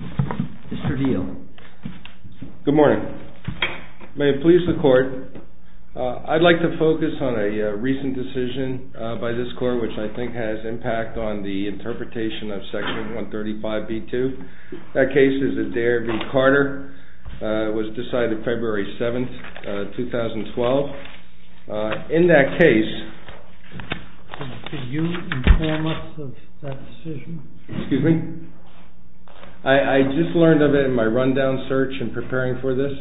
Mr. Deal. Good morning. May it please the court, I'd like to focus on a recent decision by this court which I think has impact on the interpretation of Section 135b-2. That case is Adair v. Carter. It was decided February 7, 2012. In that case, I just learned of it in my rundown search in preparing for this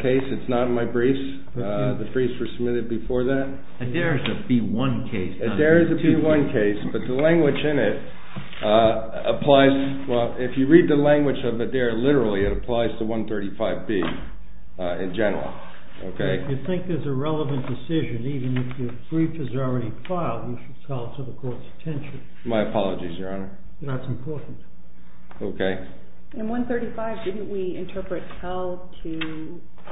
case. It's not in my briefs. The briefs were submitted before that. Adair is a B-1 case. Adair is a B-1 case, but the language in it applies, well, if you read the language of Adair literally, it applies to 135b in general. If you think there's a relevant decision, even if your brief is already filed, you should tell it to the court's attention. My apologies, Your Honor. That's important. Okay. In 135, didn't we interpret how to,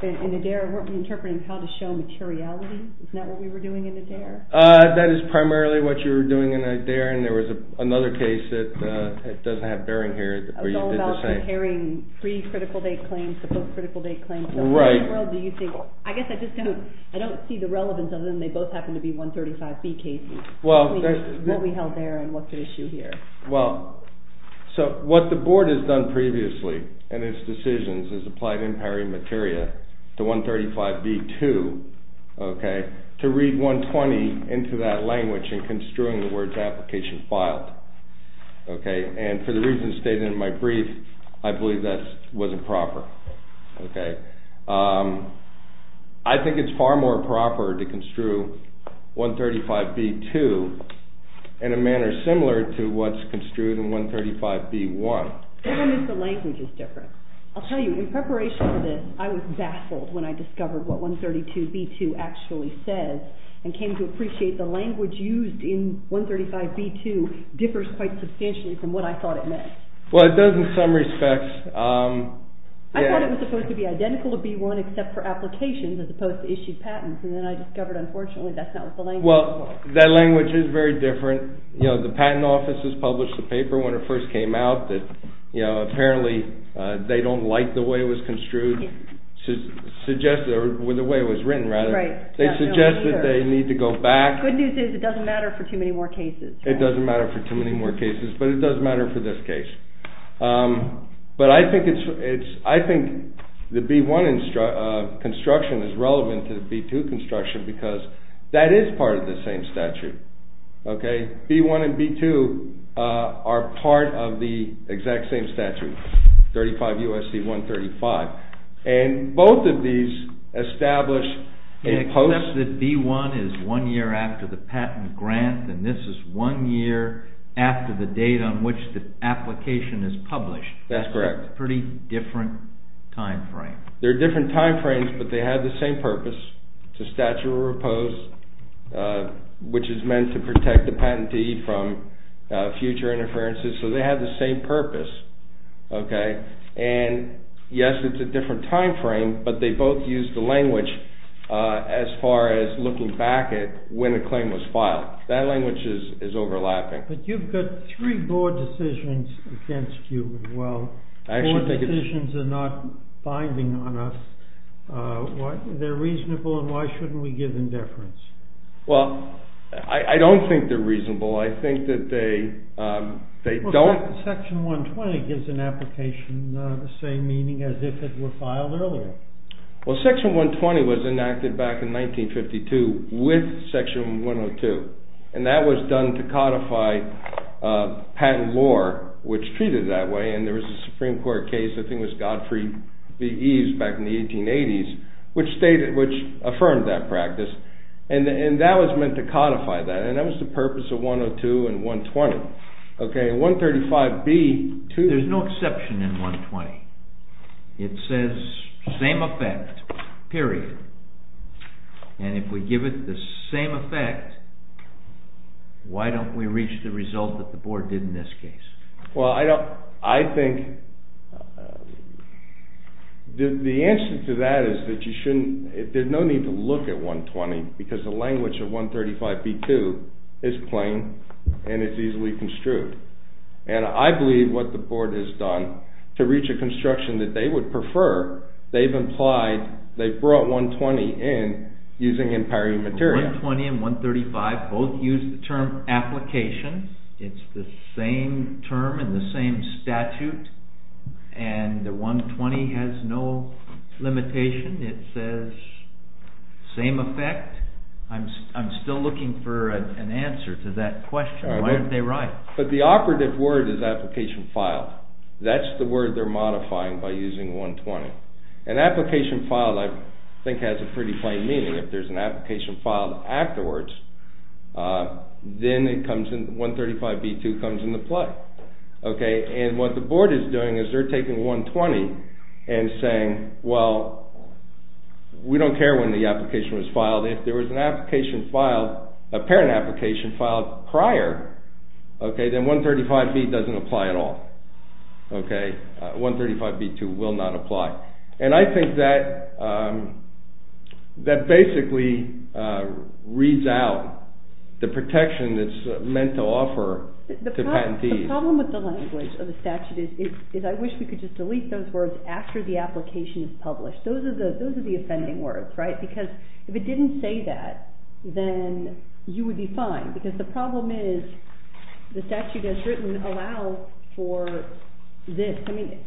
in Adair, weren't we interpreting how to show materiality? Isn't that what we were doing in Adair? That is primarily what you were doing in Adair, and there was another case that doesn't have bearing here. It was all about preparing pre-critical date claims, post-critical date claims. Right. So what in the world do you think, I guess I just don't, I don't see the relevance of them. They both happen to be 135b cases. Well, there's I mean, what we held there and what's at issue here. Well, so what the Board has done previously in its decisions is applied empowering material to 135b-2, okay, to read 120 into that language and construing the words application filed. Okay. And for the reasons stated in my brief, I believe that wasn't proper. Okay. I think it's far more proper to construe 135b-2 in a manner similar to what's construed in 135b-1. I don't think the language is different. I'll tell you, in preparation for this, I was baffled when I discovered what 132b-2 actually says and came to appreciate the language used in 135b-2 differs quite substantially from what I thought it meant. Well, it does in some respects. I thought it was supposed to be identical to b-1 except for applications as opposed to issued patents, and then I discovered, unfortunately, that's not what the language was. Well, that language is very different. You know, the Patent Office has published a paper when it first came out that, you know, apparently they don't like the way it was construed, suggested, or the way it was written, rather. Right. They suggested they need to go back. The good news is it doesn't matter for too many more cases. It doesn't matter for too many more cases, but it does matter for this case. But I think the b-1 construction is relevant to the b-2 construction because that is part of the same statute, okay? B-1 and b-2 are part of the exact same statute, 35 U.S.C. 135, and both of these establish a post... One year after the date on which the application is published. That's correct. Pretty different time frame. They're different time frames, but they have the same purpose. It's a statute of repose, which is meant to protect the patentee from future interferences, so they have the same purpose, okay? And, yes, it's a different time frame, but they both use the language as far as looking back at when a claim was filed. That language is overlapping. But you've got three board decisions against you as well. I actually think it's... Four decisions are not binding on us. They're reasonable, and why shouldn't we give indifference? Well, I don't think they're reasonable. I think that they don't... Section 120 gives an application the same meaning as if it were filed earlier. Well, Section 120 was enacted back in 1952 with Section 102, and that was done to codify patent law, which treated it that way, and there was a Supreme Court case, I think it was Godfrey v. Eves back in the 1880s, which affirmed that practice, and that was meant to codify that, and that was the purpose of 102 and 120. Okay, 135B... There's no exception in 120. It says same effect, period, and if we give it the same effect, why don't we reach the result that the board did in this case? Well, I don't... I think the answer to that is that you shouldn't... There's no need to look at 120 because the language of 135B-2 is plain and it's easily construed, and I believe what the board has done to reach a construction that they would prefer, they've implied, they've brought 120 in using imperative material. 120 and 135 both use the term application. It's the same term in the same statute, and the 120 has no limitation. It says same effect. I'm still looking for an answer to that question. Why aren't they right? But the operative word is application filed. That's the word they're modifying by using 120. And application filed, I think, has a pretty plain meaning. If there's an application filed afterwards, then it comes in... 135B-2 comes into play, okay? And what the board is doing is they're taking 120 and saying, well, we don't care when the application was filed. If there was an application filed, a parent application filed prior, okay, then 135B doesn't apply at all, okay? 135B-2 will not apply. And I think that basically reads out the protection that's meant to offer to patentees. The problem with the language of the statute is I wish we could just delete those words after the application is published. Those are the offending words, right? Because if it didn't say that, then you would be fine. Because the problem is the statute has written allow for this. I mean,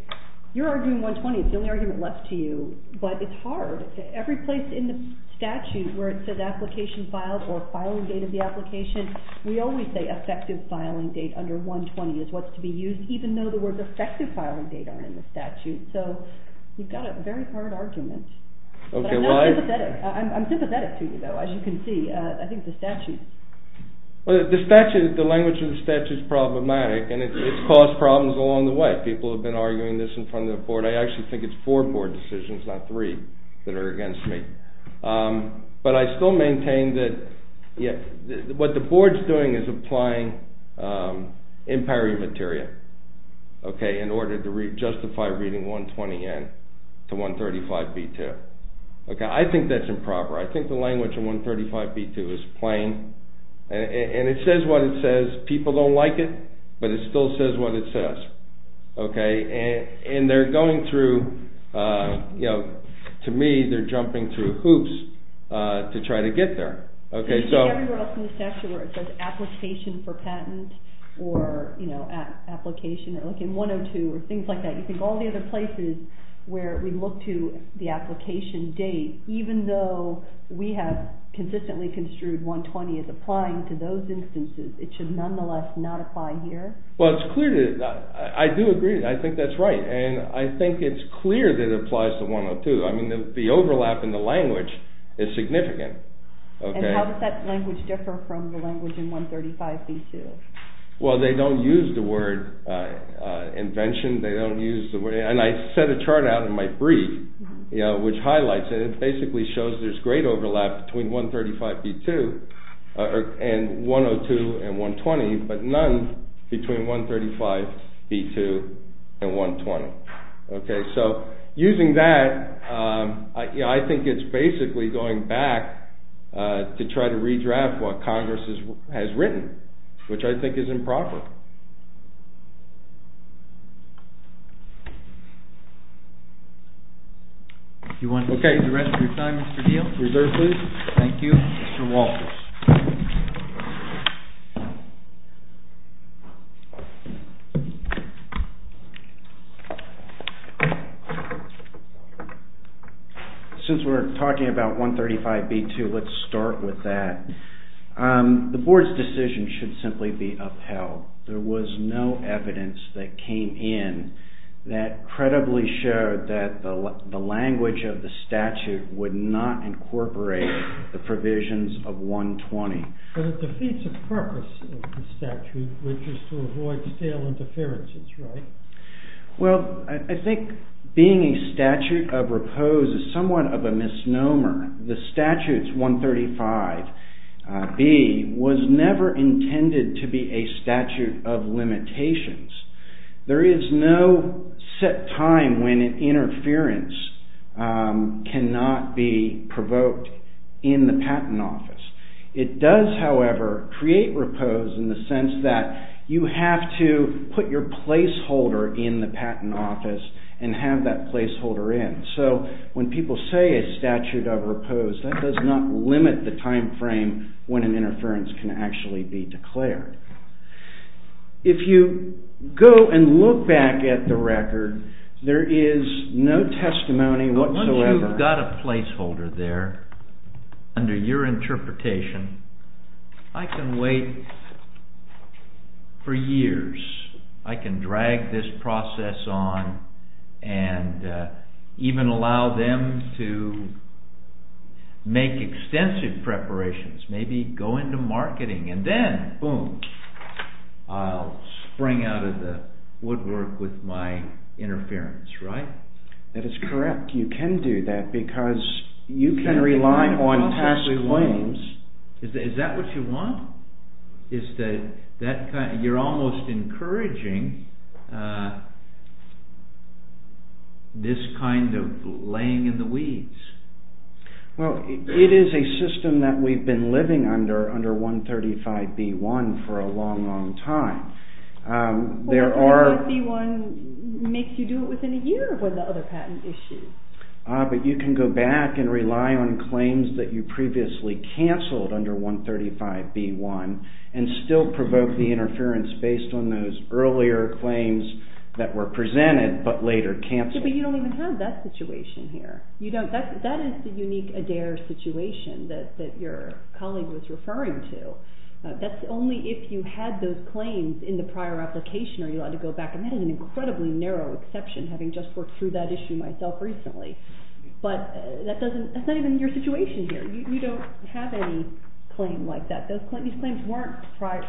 you're arguing 120. It's the only argument left to you. But it's hard. Every place in the statute where it says application filed or filing date of the application, we always say effective filing date under 120 is what's to be used, even though the words effective filing date are in the statute. So you've got a very hard argument. But I'm not sympathetic. I'm sympathetic to you, though, as you can see. I think the statute... Well, the language of the statute is problematic, and it's caused problems along the way. People have been arguing this in front of the board. I actually think it's four board decisions, not three, that are against me. But I still maintain that what the board's doing is applying empirical material in order to justify reading 120N to 135B2. I think that's improper. I think the language of 135B2 is plain, and it says what it says. People don't like it, but it still says what it says. And they're going through, to me, they're jumping through hoops to try to get there. I think everywhere else in the statute where it says application for patent or application, like in 102 or things like that, you think all the other places where we look to the application date, even though we have consistently construed 120 as applying to those instances, it should nonetheless not apply here? Well, I do agree. I think that's right. And I think it's clear that it applies to 102. I mean, the overlap in the language is significant. And how does that language differ from the language in 135B2? Well, they don't use the word invention. And I set a chart out in my brief, which highlights it. It basically shows there's great overlap between 135B2 and 102 and 120, but none between 135B2 and 120. Okay, so using that, I think it's basically going back to try to redraft what Congress has written, which I think is improper. Do you want to stay the rest of your time, Mr. Deal? Thank you. Mr. Walters. Since we're talking about 135B2, let's start with that. The board's decision should simply be upheld. There was no evidence that came in that credibly showed that the language of the statute would not incorporate the provisions of 120. But it defeats the purpose of the statute, which is to avoid stale interferences, right? Well, I think being a statute of repose is somewhat of a misnomer. The statutes 135B was never intended to be a statute of limitations. There is no set time when an interference cannot be provoked in the patent office. It does, however, create repose in the sense that you have to put your placeholder in the patent office and have that placeholder in. So when people say a statute of repose, that does not limit the timeframe when an interference can actually be declared. If you go and look back at the record, there is no testimony whatsoever. Once you've got a placeholder there, under your interpretation, I can wait for years. I can drag this process on and even allow them to make extensive preparations, maybe go into marketing, and then, boom, I'll spring out of the woodwork with my interference, right? That is correct. You can do that because you can rely on past claims. Is that what you want? You're almost encouraging this kind of laying in the weeds. Well, it is a system that we've been living under, under 135B1, for a long, long time. But 135B1 makes you do it within a year with the other patent issues. But you can go back and rely on claims that you previously cancelled under 135B1 and still provoke the interference based on those earlier claims that were presented but later cancelled. But you don't even have that situation here. That is the unique Adair situation that your colleague was referring to. That's only if you had those claims in the prior application or you had to go back. I've had an incredibly narrow exception, having just worked through that issue myself recently. But that's not even your situation here. You don't have any claim like that. These claims weren't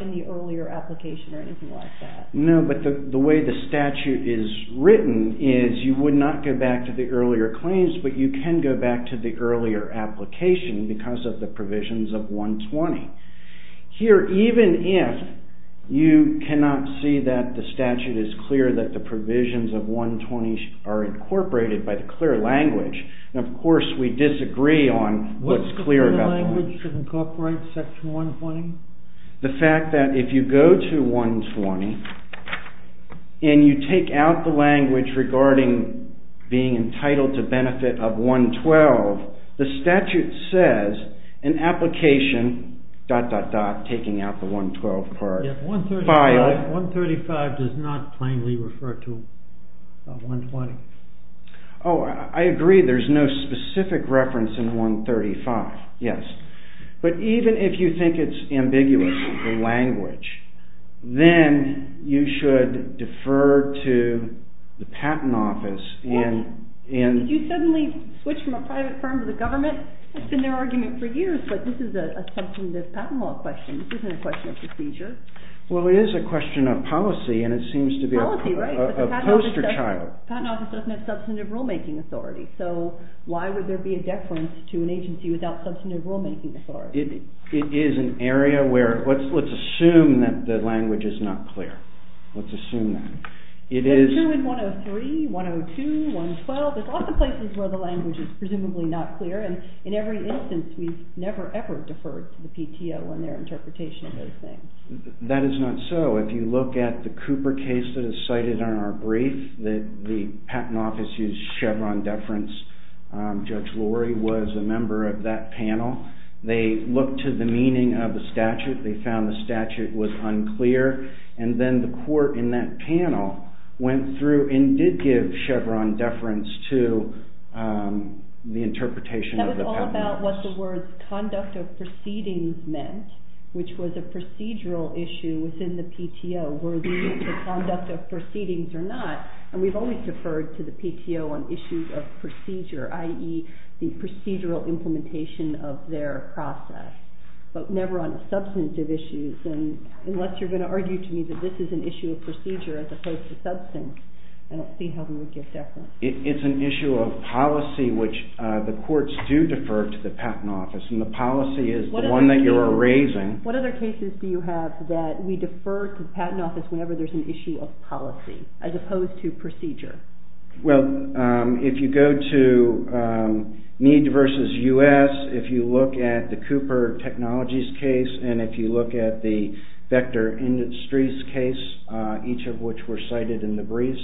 in the earlier application or anything like that. No, but the way the statute is written is you would not go back to the earlier claims, but you can go back to the earlier application because of the provisions of 120. Here, even if you cannot see that the statute is clear that the provisions of 120 are incorporated by the clear language, of course we disagree on what's clear about the language. What's the clear language to incorporate section 120? The fact that if you go to 120 and you take out the language regarding being entitled to benefit of 112, the statute says in application… taking out the 112 part. 135 does not plainly refer to 120. Oh, I agree. There's no specific reference in 135, yes. But even if you think it's ambiguous, the language, then you should defer to the patent office in… Did you suddenly switch from a private firm to the government? It's been their argument for years, but this is a substantive patent law question. This isn't a question of procedure. Well, it is a question of policy and it seems to be a poster child. Policy, right, but the patent office doesn't have substantive rulemaking authority. So why would there be a deference to an agency without substantive rulemaking authority? It is an area where… let's assume that the language is not clear. Let's assume that. It's true in 103, 102, 112. There's lots of places where the language is presumably not clear and in every instance we've never ever deferred to the PTO in their interpretation of those things. That is not so. If you look at the Cooper case that is cited in our brief, the patent office used Chevron deference. Judge Lori was a member of that panel. They looked to the meaning of the statute. They found the statute was unclear and then the court in that panel went through and did give Chevron deference to the interpretation of the patent office. That was all about what the words conduct of proceedings meant, which was a procedural issue within the PTO where the conduct of proceedings or not and we've always deferred to the PTO on issues of procedure, i.e., the procedural implementation of their process but never on substantive issues and unless you're going to argue to me that this is an issue of procedure as opposed to substance, I don't see how we would give deference. It's an issue of policy which the courts do defer to the patent office and the policy is the one that you're raising. What other cases do you have that we defer to the patent office whenever there's an issue of policy as opposed to procedure? Well, if you go to Mead v. U.S., if you look at the Cooper Technologies case and if you look at the Vector Industries case, each of which were cited in the briefs,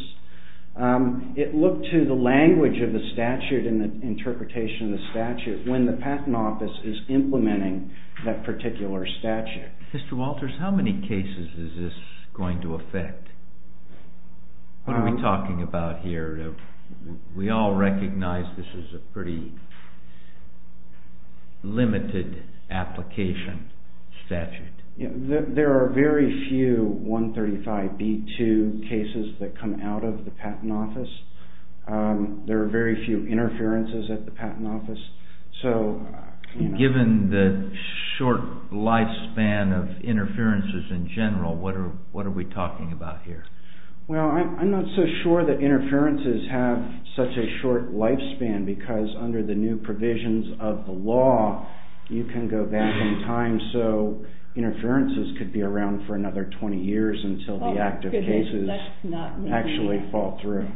it looked to the language of the statute and the interpretation of the statute when the patent office is implementing that particular statute. Mr. Walters, how many cases is this going to affect? What are we talking about here? We all recognize this is a pretty limited application statute. There are very few 135B2 cases that come out of the patent office. There are very few interferences at the patent office. Given the short lifespan of interferences in general, what are we talking about here? Well, I'm not so sure that interferences have such a short lifespan because under the new provisions of the law you can go back in time so interferences could be around for another 20 years until the active cases actually fall through.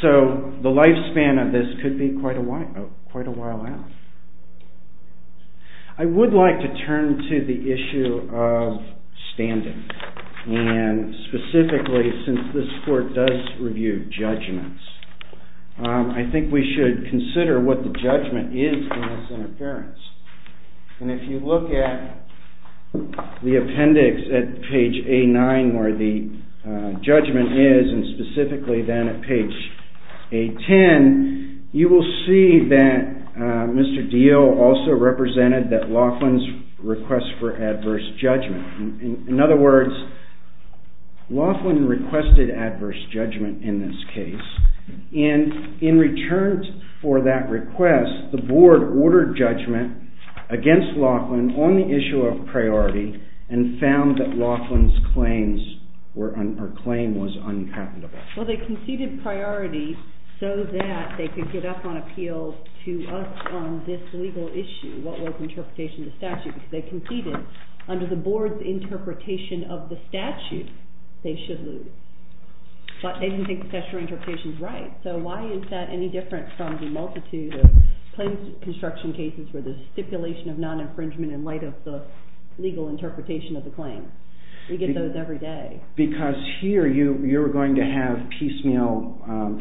So the lifespan of this could be quite a while out. I would like to turn to the issue of standing and specifically since this court does review judgments, I think we should consider what the judgment is in this interference. And if you look at the appendix at page A9 where the judgment is and specifically then at page A10, you will see that Mr. Diehl also represented that Laughlin's request for adverse judgment. In other words, Laughlin requested adverse judgment in this case and in return for that request, the board ordered judgment against Laughlin on the issue of priority and found that Laughlin's claim was unacceptable. Well, they conceded priority so that they could get up on appeal to us on this legal issue, what was interpretation of the statute. They conceded under the board's interpretation of the statute, they should lose. But they didn't think the statutory interpretation is right. So why is that any different from the multitude of claims construction cases where the stipulation of non-infringement in light of the legal interpretation of the claim? We get those every day. Because here you are going to have piecemeal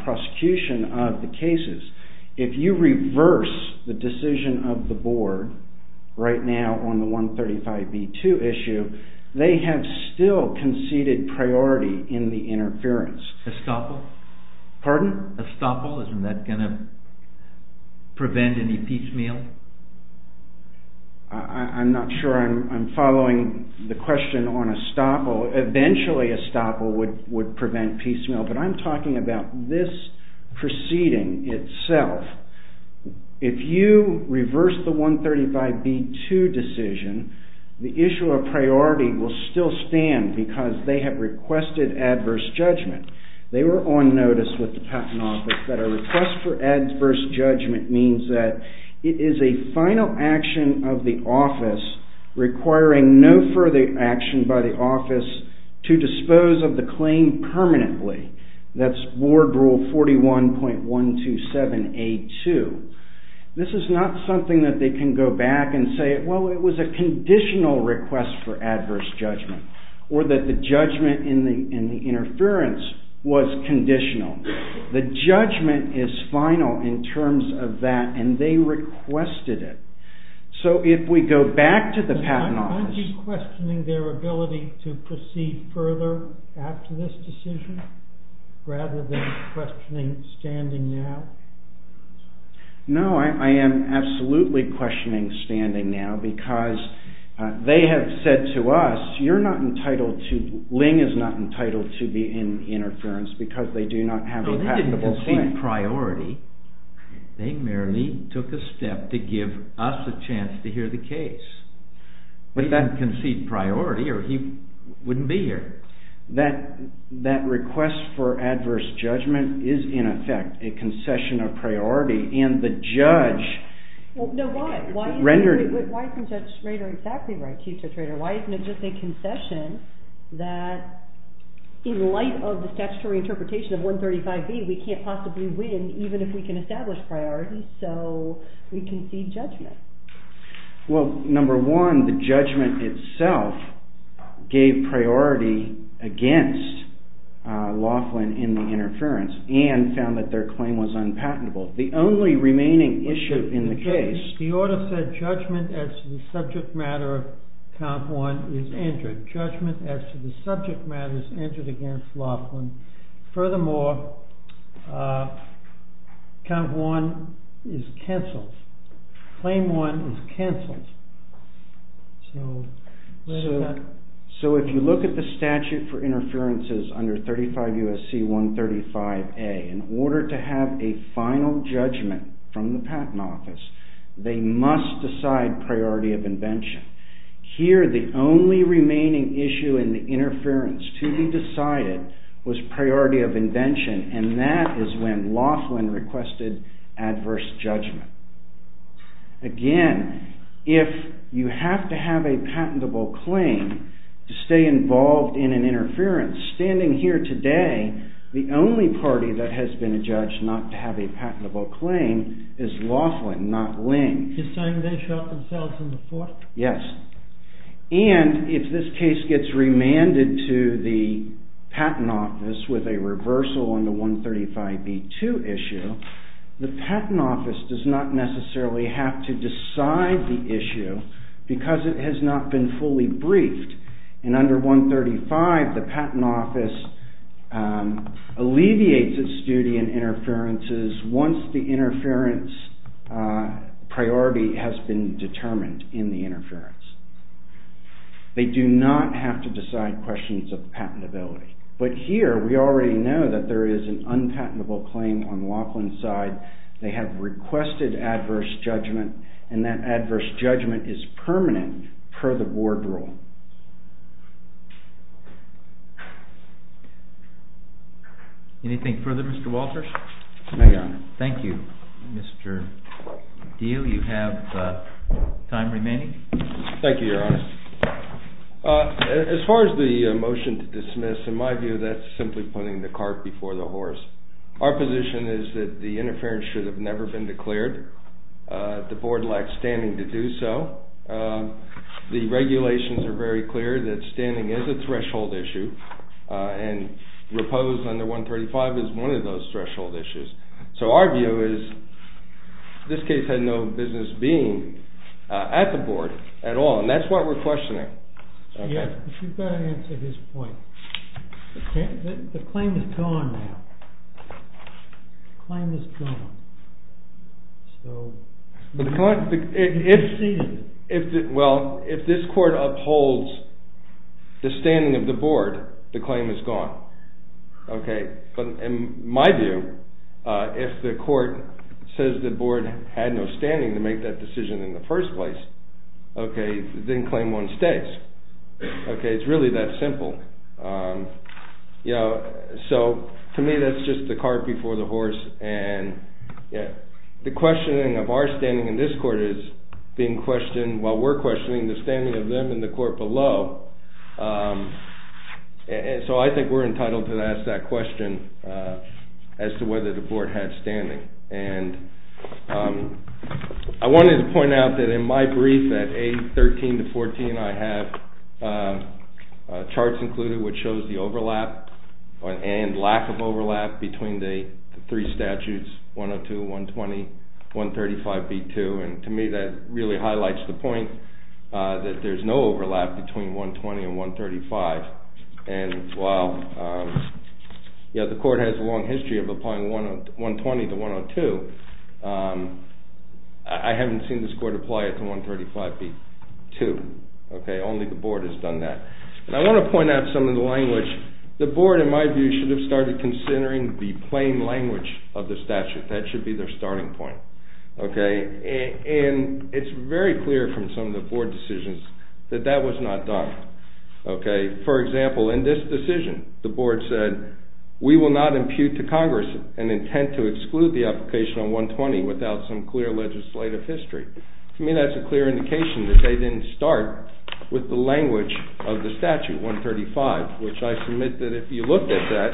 prosecution of the cases. If you reverse the decision of the board right now on the 135B2 issue, they have still conceded priority in the interference. Estoppel? Pardon? Estoppel, isn't that going to prevent any piecemeal? I'm not sure I'm following the question on Estoppel. Eventually, Estoppel would prevent piecemeal. But I'm talking about this proceeding itself. If you reverse the 135B2 decision, the issue of priority will still stand because they have requested adverse judgment. They were on notice with the Patent Office that a request for adverse judgment means that it is a final action of the office requiring no further action by the office to dispose of the claim permanently. That's Board Rule 41.127A2. This is not something that they can go back and say, well, it was a conditional request for adverse judgment, or that the judgment in the interference was conditional. The judgment is final in terms of that, and they requested it. So if we go back to the Patent Office... Would you concede further after this decision rather than questioning standing now? No, I am absolutely questioning standing now because they have said to us, you're not entitled to, Ling is not entitled to be in interference because they do not have a passable claim. They didn't concede priority. They merely took a step to give us a chance to hear the case. Would that concede priority or he wouldn't be here? That request for adverse judgment is in effect a concession of priority, and the judge rendered... Why isn't Judge Schrader exactly right, Chief Judge Schrader? Why isn't it just a concession that in light of the statutory interpretation of 135B, we can't possibly win even if we can establish priority, so we concede judgment? Well, number one, the judgment itself gave priority against Laughlin in the interference and found that their claim was unpatentable. The only remaining issue in the case... The order said judgment as to the subject matter of count 1 is entered. Judgment as to the subject matter is entered against Laughlin. Furthermore, count 1 is cancelled. Claim 1 is cancelled. So, if you look at the statute for interferences under 35 U.S.C. 135A, in order to have a final judgment from the Patent Office, they must decide priority of invention. Here, the only remaining issue in the interference to be decided was priority of invention, and that is when Laughlin requested adverse judgment. Again, if you have to have a patentable claim to stay involved in an interference, standing here today, the only party that has been judged not to have a patentable claim is Laughlin, not Ling. You're saying they shot themselves in the foot? Yes. And, if this case gets remanded to the Patent Office with a reversal on the 135B2 issue, the Patent Office does not necessarily have to decide the issue, because it has not been fully briefed. And under 135, the Patent Office alleviates its duty in interferences once the interference priority has been determined in the interference. They do not have to decide questions of patentability. But here, we already know that there is an unpatentable claim on Laughlin's side. They have requested adverse judgment, and that adverse judgment is permanent per the board rule. Thank you. Anything further, Mr. Walters? No, Your Honor. Thank you, Mr. Diehl. You have time remaining. Thank you, Your Honor. As far as the motion to dismiss, in my view, that's simply putting the cart before the horse. Our position is that the interference should have never been declared. The board lacks standing to do so. The regulations are very clear that standing is a threshold issue, and repose under 135 is one of those threshold issues. So our view is this case had no business being at the board at all, and that's why we're questioning. You've got to answer his point. The claim is gone now. The claim is gone. Well, if this court upholds the standing of the board, the claim is gone. But in my view, if the court says the board had no standing to make that decision in the first place, then claim one stays. It's really that simple. So to me, that's just the cart before the horse, and the questioning of our standing in this court is being questioned while we're questioning the standing of them in the court below. So I think we're entitled to ask that question as to whether the board had standing. And I wanted to point out that in my brief at A13 to 14, I have charts included which shows the overlap and lack of overlap between the three statutes, 102, 120, 135B2. And to me, that really highlights the point that there's no overlap between 120 and 135. And while the court has a long history of applying 120 to 102, I haven't seen this court apply it to 135B2. Only the board has done that. And I want to point out some of the language. The board, in my view, should have started considering the plain language of the statute. That should be their starting point. And it's very clear from some of the board decisions that that was not done. For example, in this decision, the board said, we will not impute to Congress an intent to exclude the application on 120 without some clear legislative history. To me, that's a clear indication that they didn't start with the language of the statute 135, which I submit that if you look at that,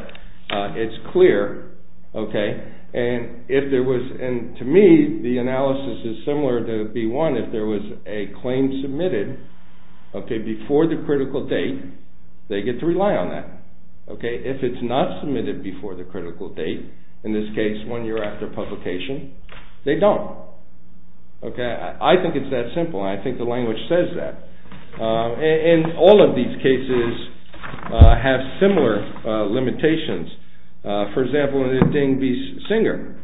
it's clear. And to me, the analysis is similar to B1. If there was a claim submitted before the critical date, they get to rely on that. If it's not submitted before the critical date, in this case, one year after publication, they don't. I think it's that simple, and I think the language says that. And all of these cases have similar limitations. For example, in the Ding v. Singer,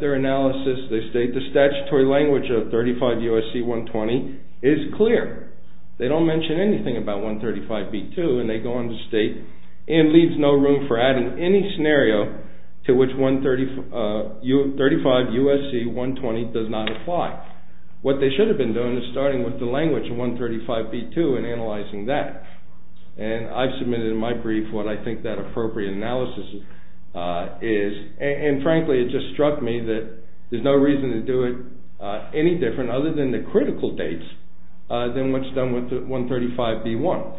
their analysis, they state, the statutory language of 35 U.S.C. 120 is clear. They don't mention anything about 135 B2, and they go on to state, and leaves no room for adding any scenario to which 135 U.S.C. 120 does not apply. What they should have been doing is starting with the language of 135 B2 and analyzing that. And I've submitted in my brief what I think that appropriate analysis is. And frankly, it just struck me that there's no reason to do it any different, other than the critical dates, than what's done with 135 B1.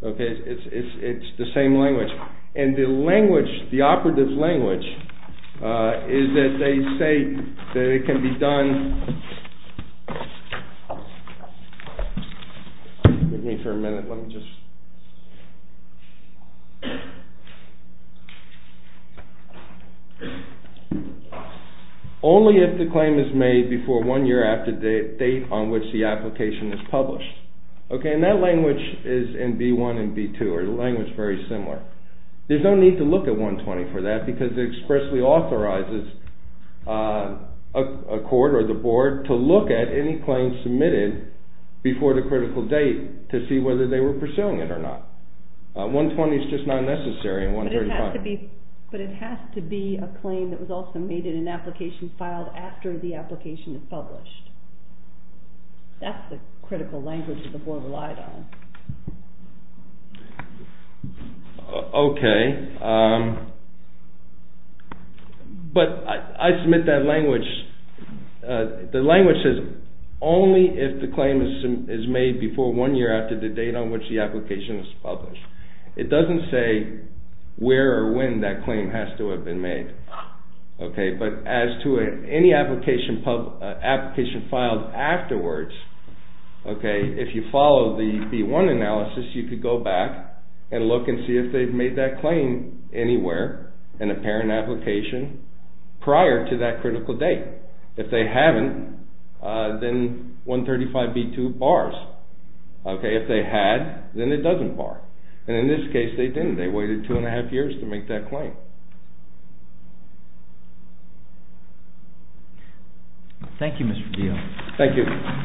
Okay, it's the same language. And the language, the operative language, is that they say that it can be done... Excuse me for a minute, let me just... Only if the claim is made before one year after the date on which the application is published. Okay, and that language is in B1 and B2, or the language is very similar. There's no need to look at 120 for that, because it expressly authorizes a court or the board to look at any claim submitted before the critical date to see whether they were pursuing it or not. 120 is just not necessary in 135. But it has to be a claim that was also made in an application filed after the application is published. That's the critical language that the board relied on. Okay, but I submit that language... The language says only if the claim is made before one year after the date on which the application is published. It doesn't say where or when that claim has to have been made. Okay, but as to any application filed afterwards, if you follow the B1 analysis, you could go back and look and see if they've made that claim anywhere in a parent application prior to that critical date. If they haven't, then 135B2 bars. If they had, then it doesn't bar. And in this case, they didn't. They waited two and a half years to make that claim. Thank you, Mr. Geale. Thank you.